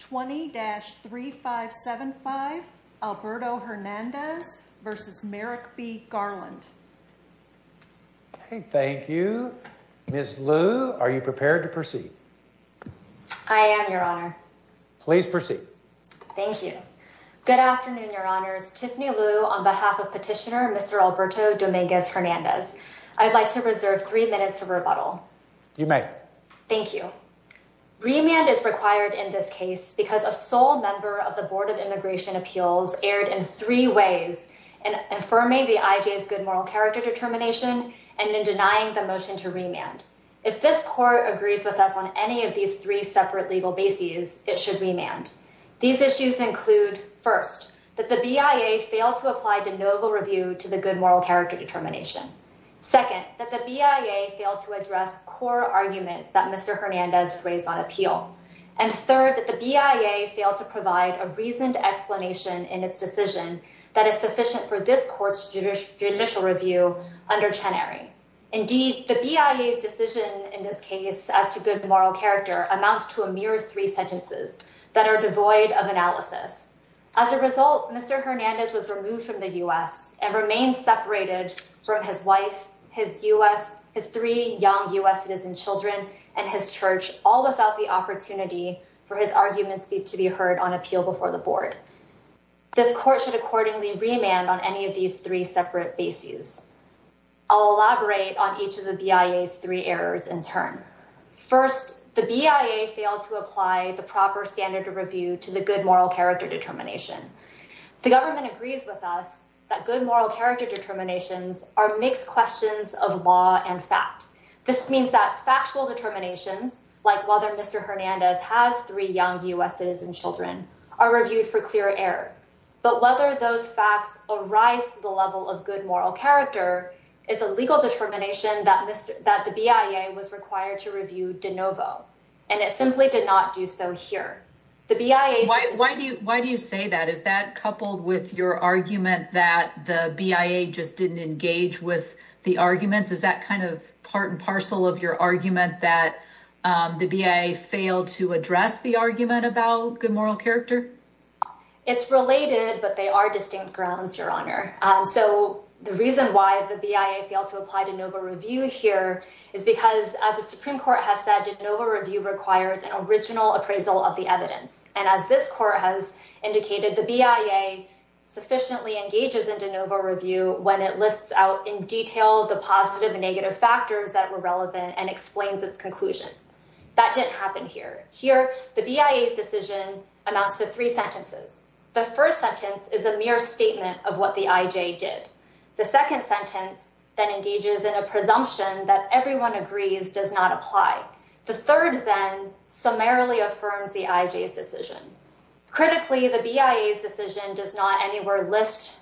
20-3575 Alberto Hernandez v. Merrick B. Garland Thank you. Ms. Liu, are you prepared to proceed? I am, Your Honor. Please proceed. Thank you. Good afternoon, Your Honors. Tiffany Liu on behalf of Petitioner Mr. Alberto Dominguez-Hernandez. I'd like to reserve three minutes of rebuttal. You may. Thank you. Remand is required in this case because a sole member of the Board of Immigration Appeals erred in three ways in affirming the IJ's good moral character determination and in denying the motion to remand. If this court agrees with us on any of these three separate legal bases, it should remand. These issues include, first, that the BIA failed to apply de novo review to the good moral character determination. Second, that the BIA failed to address core arguments that Mr. Hernandez raised on appeal. And third, that the BIA failed to provide a reasoned explanation in its decision that is sufficient for this court's judicial review under Chenery. Indeed, the BIA's decision in this case as to good moral character amounts to a mere three sentences that are devoid of analysis. As a result, Mr. Hernandez was removed from the U.S. and remained separated from his wife, his U.S. his three young U.S. citizen children and his church, all without the opportunity for his arguments to be heard on appeal before the board. This court should accordingly remand on any of these three separate bases. I'll elaborate on each of the BIA's three errors in turn. First, the BIA failed to apply the proper standard of review to the good moral character determination. The government agrees with us that good moral character determinations are mixed questions of law and fact. This means that factual determinations like whether Mr. Hernandez has three young U.S. citizen children are reviewed for clear error. But whether those facts arise to the level of good moral character is a legal determination that Mr. that the BIA was required to review de novo, and it simply did not do so here. The BIA. Why do you why do you say that? Is that coupled with your argument that the BIA just didn't engage with the arguments? Is that kind of part and parcel of your argument that the BIA failed to address the argument about good moral character? It's related, but they are distinct grounds, Your Honor. So the reason why the BIA failed to apply to Nova review here is because, as the Supreme Court has said, did Nova review requires an original appraisal of the evidence. And as this court has indicated, the BIA sufficiently engages in de novo review when it lists out in detail, the positive and negative factors that were relevant and explains its conclusion that didn't happen here. Here, the BIA's decision amounts to three sentences. The first sentence is a mere statement of what the IJ did. The second sentence that engages in a presumption that everyone agrees does not apply. The third then summarily affirms the IJ's decision. Critically, the BIA's decision does not anywhere list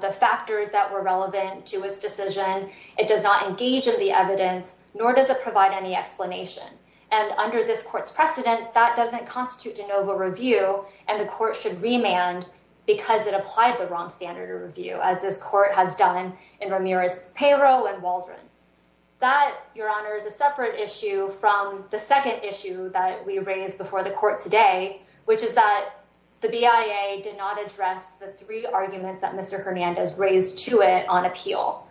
the factors that were relevant to its decision. It does not engage in the evidence, nor does it provide any explanation. And under this court's precedent, that doesn't constitute de novo review. And the court should remand because it applied the wrong standard of review, as this court has done in Ramirez, payroll and Waldron. That, Your Honor, is a separate issue from the second issue that we raised before the court today, which is that the BIA did not address the three arguments that Mr. Hernandez raised to it on appeal.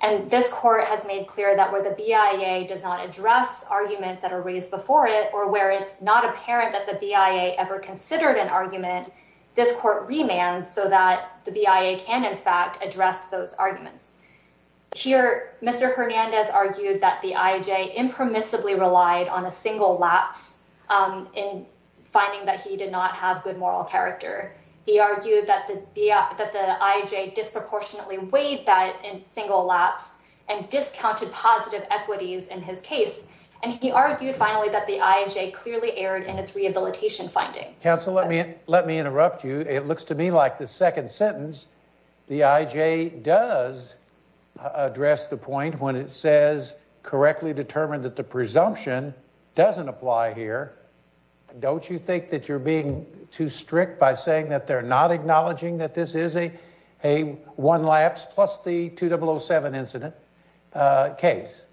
And this court has made clear that where the BIA does not address arguments that are raised before it or where it's not apparent that the BIA ever considered an argument, this court remand so that the BIA can, in fact, address those arguments. Here, Mr. Hernandez argued that the IJ impermissibly relied on a single lapse in finding that he did not have good moral character. He argued that the that the IJ disproportionately weighed that single lapse and discounted positive equities in his case. And he argued, finally, that the IJ clearly erred in its rehabilitation finding. Counsel, let me let me interrupt you. It looks to me like the second sentence. The IJ does address the point when it says correctly determined that the presumption doesn't apply here. Don't you think that you're being too strict by saying that they're not acknowledging that this is a a one lapse plus the 2007 incident case?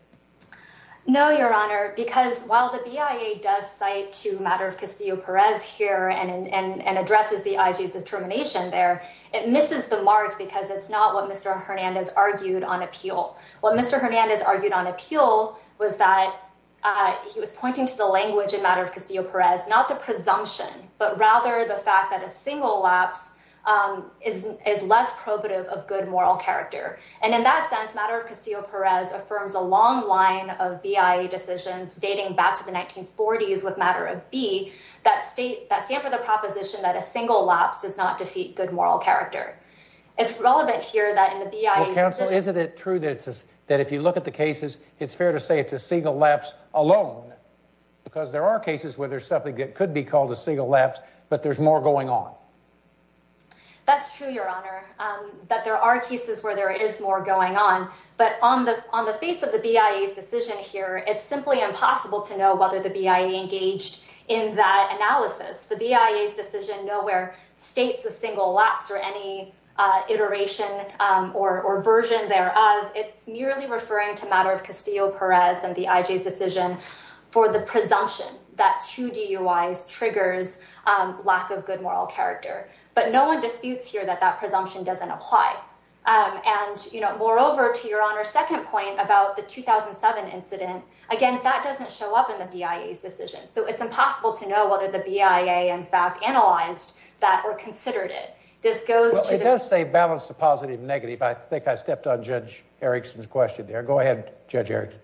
No, Your Honor, because while the BIA does cite to matter of Castillo Perez here and addresses the IJ's determination there, it misses the mark because it's not what Mr. Hernandez argued on appeal. What Mr. Hernandez argued on appeal was that he was pointing to the language and matter of Castillo Perez, not the presumption, but rather the fact that a single lapse is is less probative of good moral character. And in that sense, matter of Castillo Perez affirms a long line of BIA decisions dating back to the 1940s with matter of B, that state that stand for the proposition that a single lapse does not defeat good moral character. It's relevant here that in the BIA, isn't it true that it's that if you look at the cases, it's fair to say it's a single lapse alone, because there are cases where there's something that could be called a single lapse, but there's more going on. That's true, Your Honor, that there are cases where there is more going on. But on the on the face of the BIA's decision here, it's simply impossible to know whether the BIA engaged in that analysis. The BIA's decision nowhere states a single lapse or any iteration or version thereof. It's merely referring to matter of Castillo Perez and the IJ's decision for the presumption that two DUIs triggers lack of good moral character. But no one disputes here that that presumption doesn't apply. And, you know, moreover, to your honor, second point about the 2007 incident. Again, that doesn't show up in the BIA's decision. So it's impossible to know whether the BIA, in fact, analyzed that or considered it. This goes to say balance the positive negative. I think I stepped on Judge Erickson's question there. Go ahead, Judge Erickson.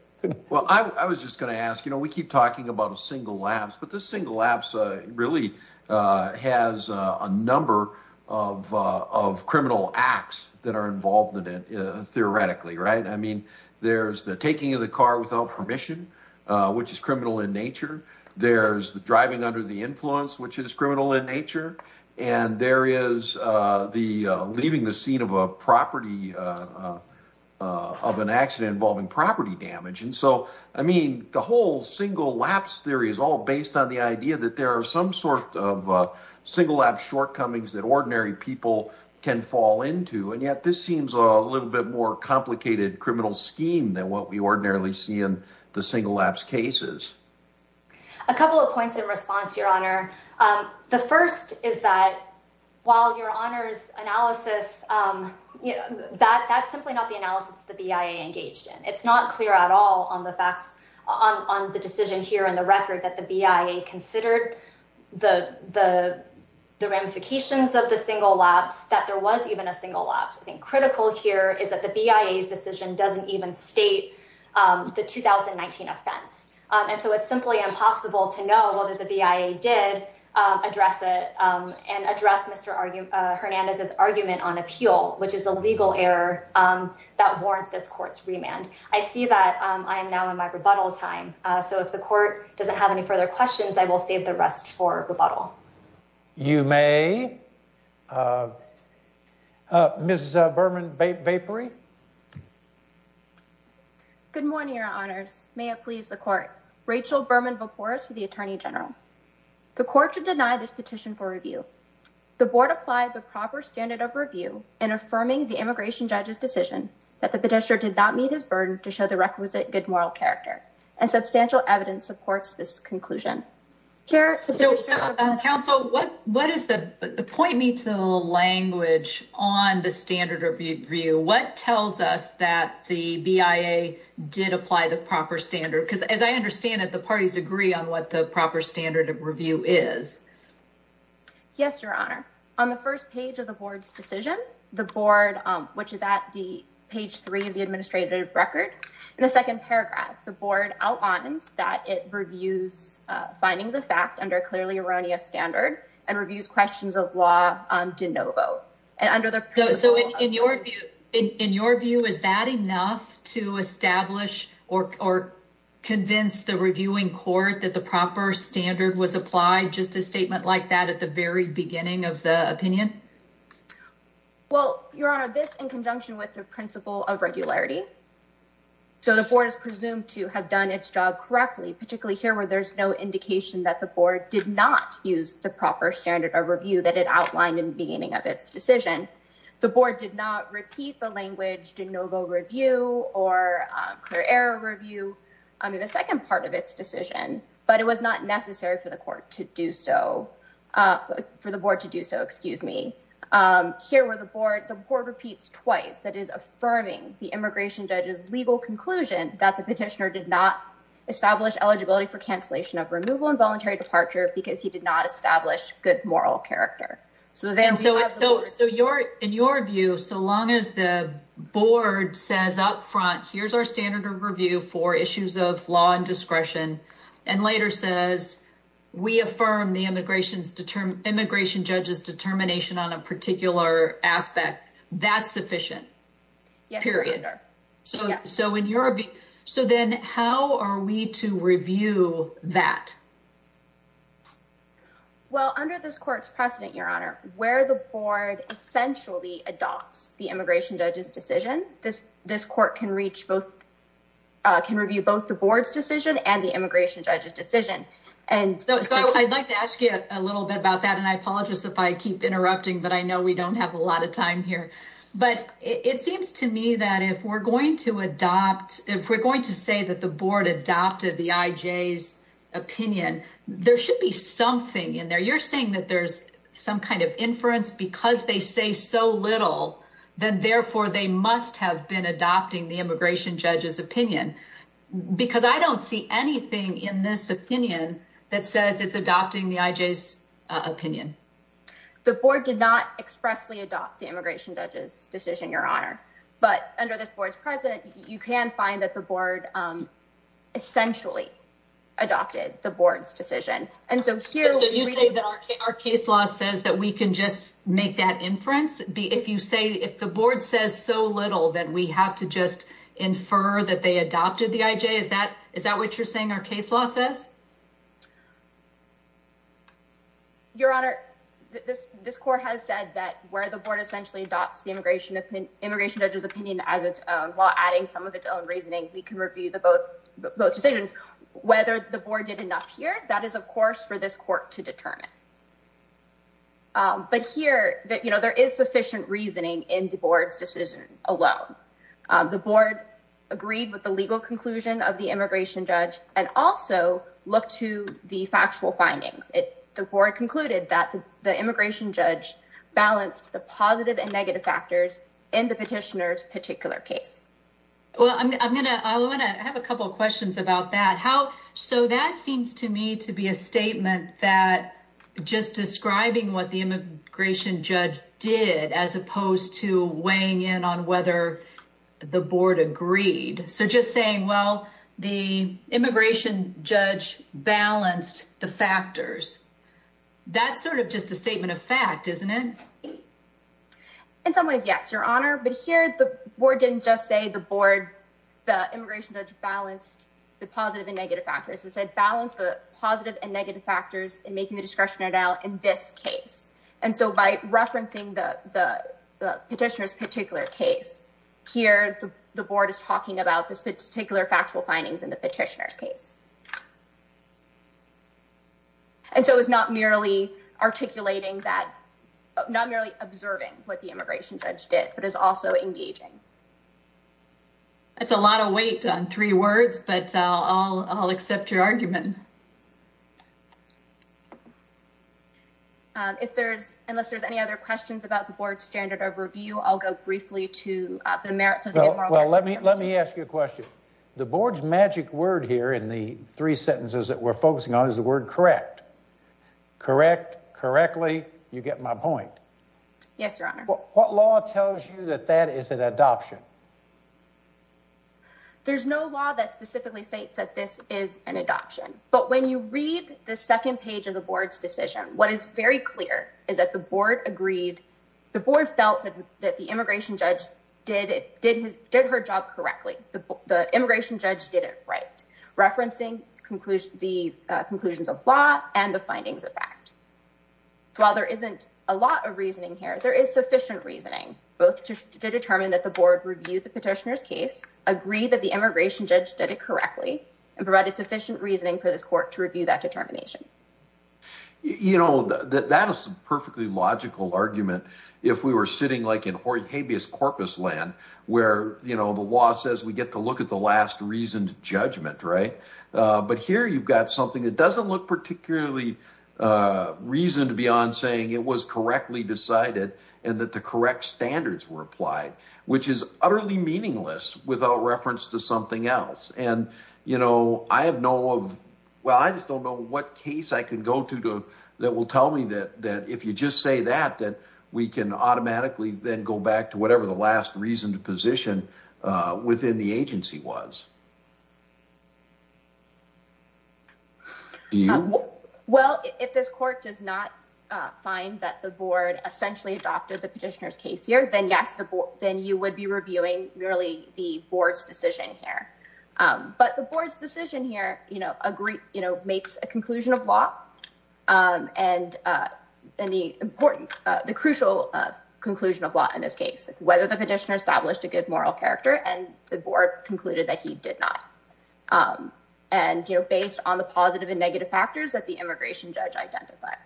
Well, I was just going to ask, you know, we keep talking about a single lapse, but the single lapse really has a number of of criminal acts that are involved in it. I mean, there's the taking of the car without permission, which is criminal in nature. There's the driving under the influence, which is criminal in nature. And there is the leaving the scene of a property of an accident involving property damage. And so, I mean, the whole single lapse theory is all based on the idea that there are some sort of single lapse shortcomings that ordinary people can fall into. And yet this seems a little bit more complicated criminal scheme than what we ordinarily see in the single lapse cases. A couple of points in response, your honor. The first is that while your honors analysis that that's simply not the analysis the BIA engaged in, it's not clear at all on the facts on the decision here in the record that the BIA considered the the the ramifications of the single lapse, that there was even a single lapse. I think critical here is that the BIA's decision doesn't even state the 2019 offense. And so it's simply impossible to know whether the BIA did address it and address Mr. Hernandez's argument on appeal, which is a legal error that warrants this court's remand. I see that I am now in my rebuttal time. So if the court doesn't have any further questions, I will save the rest for rebuttal. You may. Mrs. Berman-Vapery. Good morning, your honors. May it please the court. Rachel Berman-Vapores for the attorney general. The court should deny this petition for review. The board applied the proper standard of review in affirming the immigration judge's decision that the character and substantial evidence supports this conclusion here. Counsel, what what is the point? Me to the language on the standard of review? What tells us that the BIA did apply the proper standard? Because as I understand it, the parties agree on what the proper standard of review is. Yes, your honor. On the first page of the board's decision, the board, which is at the page three of the administrative record, the second paragraph, the board outlines that it reviews findings of fact under a clearly erroneous standard and reviews questions of law on DeNovo. And under the. So in your view, in your view, is that enough to establish or convince the reviewing court that the proper standard was applied? Just a statement like that at the very beginning of the opinion? Well, your honor, this in conjunction with the principle of regularity. So the board is presumed to have done its job correctly, particularly here where there's no indication that the board did not use the proper standard of review that it outlined in the beginning of its decision. The board did not repeat the language DeNovo review or error review. I mean, the second part of its decision, but it was not necessary for the court to do so for the board to do so. Excuse me. Here were the board. The board repeats twice. That is affirming the immigration judge's legal conclusion that the petitioner did not establish eligibility for cancellation of removal and voluntary departure because he did not establish good moral character. So then so so so your in your view, so long as the board says up front, here's our standard of review for issues of law and discretion and later says we affirm the immigration's immigration judge's determination on a particular aspect. That's sufficient. Period. So so in your. So then how are we to review that? Well, under this court's precedent, your honor, where the board essentially adopts the immigration judge's decision, this this court can reach both can review both the board's decision and the immigration judge's decision. And so I'd like to ask you a little bit about that. And I apologize if I keep interrupting, but I know we don't have a lot of time here, but it seems to me that if we're going to adopt, if we're going to say that the board adopted the IJ's opinion, there should be something in there. You're saying that there's some kind of inference because they say so little than therefore they must have been adopting the immigration judge's opinion because I don't see anything in this opinion that says it's adopting the IJ's opinion. The board did not expressly adopt the immigration judge's decision, your honor, but under this board's president, you can find that the board essentially adopted the board's decision. And so here's our case law says that we can just make that inference. If you say if the board says so little that we have to just infer that they adopted the IJ, is that is that what you're saying? Your honor, this this court has said that where the board essentially adopts the immigration immigration judge's opinion as its own, while adding some of its own reasoning, we can review the both both decisions, whether the board did enough here. That is, of course, for this court to determine. But here that there is sufficient reasoning in the board's decision alone, the board agreed with the legal conclusion of the immigration judge and also look to the factual findings. The board concluded that the immigration judge balanced the positive and negative factors in the petitioner's particular case. Well, I'm going to I want to have a couple of questions about that, how so that seems to me to be a statement that just describing what the immigration judge did, as opposed to weighing in on whether the board agreed. So just saying, well, the immigration judge balanced the factors. That's sort of just a statement of fact, isn't it? In some ways, yes, your honor, but here the board didn't just say the board, the immigration judge balanced the positive and negative factors and said balance the positive and negative factors and making the discretionary now in this case. And so, by referencing the petitioner's particular case here, the board is talking about this particular factual findings in the petitioner's case. And so it's not merely articulating that, not merely observing what the immigration judge did, but is also engaging. That's a lot of weight on three words, but I'll I'll accept your argument. If there's unless there's any other questions about the board standard of review, I'll go briefly to the merits. Well, let me let me ask you a question. The board's magic word here in the three sentences that we're focusing on is the word. Correct. Correct. Correctly, you get my point. Yes, your honor. What law tells you that that is an adoption? There's no law that specifically states that this is an adoption, but when you read the 2nd, page of the board's decision, what is very clear is that the board agreed. The board felt that the immigration judge did it did his did her job correctly. The immigration judge did it right? Referencing conclusion, the conclusions of law and the findings of fact. While there isn't a lot of reasoning here, there is sufficient reasoning, both to determine that the board reviewed the petitioner's case agree that the immigration judge did it correctly and provided sufficient reasoning for this court to review that determination. You know that that is perfectly logical argument. If we were sitting like in Habeas Corpus land, where, you know, the law says we get to look at the last reason to judgment, right? But here you've got something that doesn't look particularly reason to be on saying it was correctly decided and that the correct standards were applied, which is utterly meaningless without reference to something else. And, you know, I have no of well, I just don't know what case I can go to that will tell me that that if you just say that, that we can automatically then go back to whatever the last reason to position within the agency was. Well, if this court does not find that the board essentially adopted the petitioner's case here, then yes, then you would be reviewing really the board's decision here. But the board's decision here, you know, agree, you know, makes a conclusion of law and and the important, the crucial conclusion of law in this case, whether the petitioner established a good moral character. And the board concluded that he did not and based on the positive and negative factors that the immigration judge identified.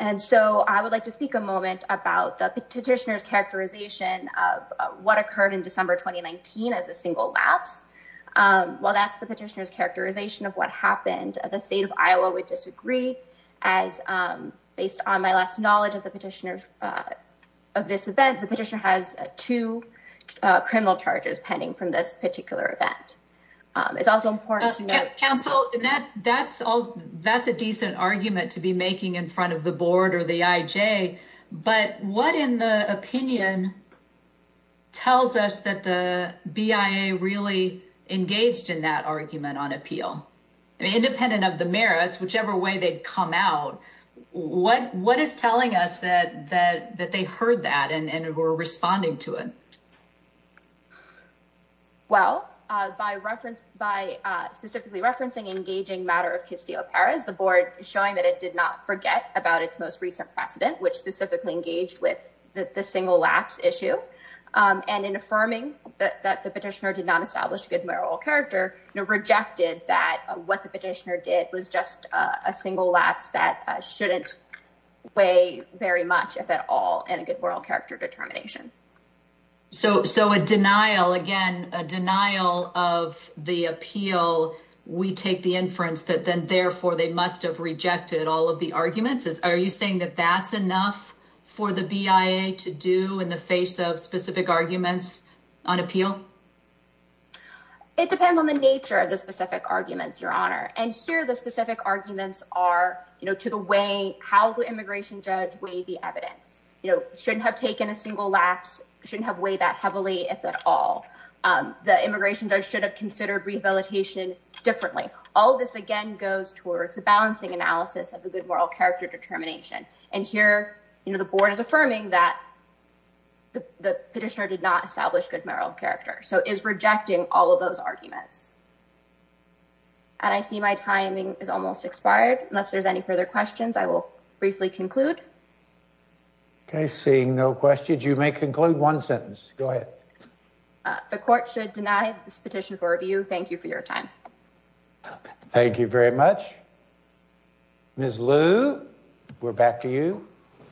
And so I would like to speak a moment about the petitioner's characterization of what occurred in December 2019 as a single lapse. Well, that's the petitioner's characterization of what happened at the state of Iowa would disagree as based on my last knowledge of the petitioners of this event. The petitioner has two criminal charges pending from this particular event. It's also important to counsel that that's all. That's a decent argument to be making in front of the board or the IJ. But what in the opinion tells us that the BIA really engaged in that argument on appeal independent of the merits, whichever way they come out? What what is telling us that that that they heard that and were responding to it? Well, by reference, by specifically referencing engaging matter of Castillo, Paris, the board is showing that it did not forget about its most recent precedent, which specifically engaged with the single lapse issue. And in affirming that the petitioner did not establish good moral character rejected that what the petitioner did was just a single lapse that shouldn't weigh very much if at all. And a good moral character determination. So so a denial again, a denial of the appeal, we take the inference that then therefore they must have rejected all of the arguments. Are you saying that that's enough for the BIA to do in the face of specific arguments on appeal? It depends on the nature of the specific arguments, Your Honor. And here, the specific arguments are, you know, to the way how the immigration judge way, the evidence shouldn't have taken a single lapse shouldn't have way that heavily. If at all, the immigration judge should have considered rehabilitation differently. All of this again goes towards the balancing analysis of the good moral character determination. And here, the board is affirming that the petitioner did not establish good moral character. So is rejecting all of those arguments. And I see my timing is almost expired. Unless there's any further questions, I will briefly conclude. Okay, seeing no questions, you may conclude one sentence. Go ahead. The court should deny this petition for review. Thank you for your time. Thank you very much. Miss Lou, we're back to you.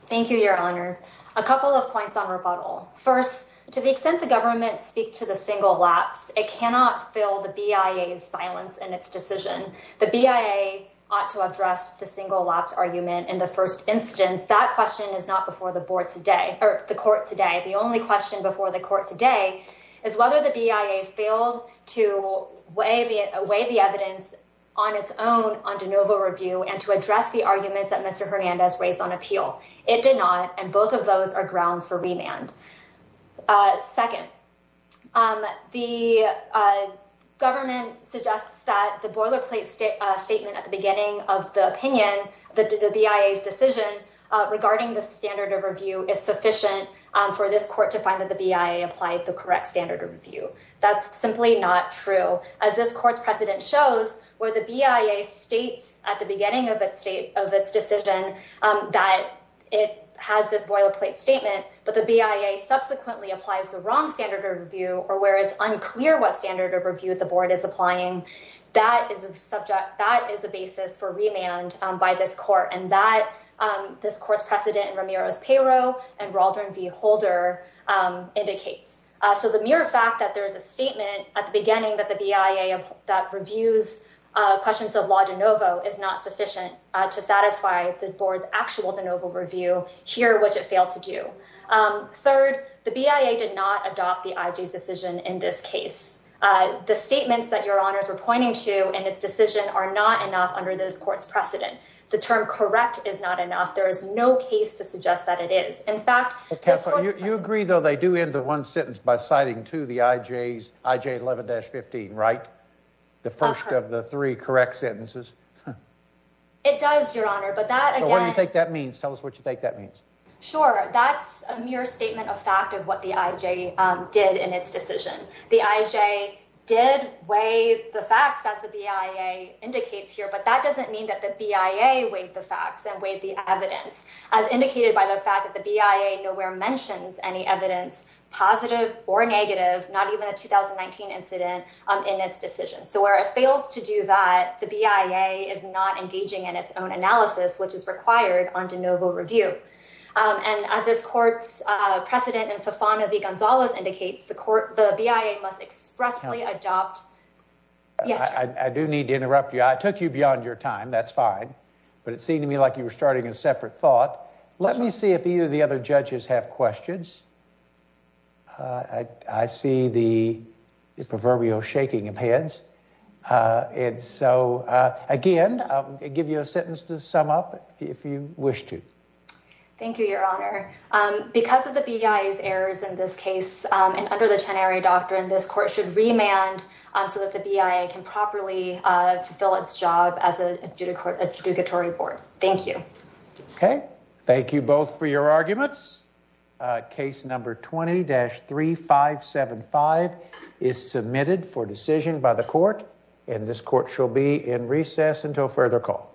Thank you, Your Honor. A couple of points on rebuttal. First, to the extent the government speak to the single lapse, it cannot fill the BIA's silence in its decision. The BIA ought to address the single lapse argument in the first instance. That question is not before the board today or the court today. The only question before the court today is whether the BIA failed to weigh the evidence on its own on de novo review and to address the arguments that Mr. Hernandez raised on appeal. It did not. And both of those are grounds for remand. Second, the government suggests that the boilerplate statement at the beginning of the opinion, the BIA's decision regarding the standard of review is sufficient for this court to find that the BIA applied the correct standard of review. That's simply not true. As this court's precedent shows where the BIA states at the beginning of its state of its decision that it has this boilerplate statement, but the BIA subsequently applies the wrong standard of review or where it's unclear what standard of review the board is applying. That is subject. Third, the BIA did not adopt the IG's decision in this case. The statements that your honors are pointing to and its decision are not enough under this court's precedent. The term correct is not enough. There is no case to suggest that it is. In fact, you agree, though, they do end the one sentence by citing to the IJ's IJ 11-15, right? The first of the three correct sentences. It does, your honor. But that I think that means tell us what you think that means. Sure. That's a mere statement of fact of what the IJ did in its decision. The IJ did weigh the facts as the BIA indicates here. But that doesn't mean that the BIA weighed the facts and weighed the evidence as indicated by the fact that the BIA nowhere mentions any evidence positive or negative, not even a 2019 incident in its decision. So where it fails to do that, the BIA is not engaging in its own analysis, which is required on DeNovo review. And as this court's precedent and Fafana V. Gonzalez indicates, the court the BIA must expressly adopt. Yes, I do need to interrupt you. I took you beyond your time. That's fine. But it seemed to me like you were starting a separate thought. Let me see if either the other judges have questions. I see the proverbial shaking of heads. And so, again, I'll give you a sentence to sum up if you wish to. Thank you, Your Honor. Because of the BIA's errors in this case and under the tenary doctrine, this court should remand so that the BIA can properly fill its job as a judicatory board. Thank you. OK, thank you both for your arguments. Case number 20-3575 is submitted for decision by the court. And this court shall be in recess until further call.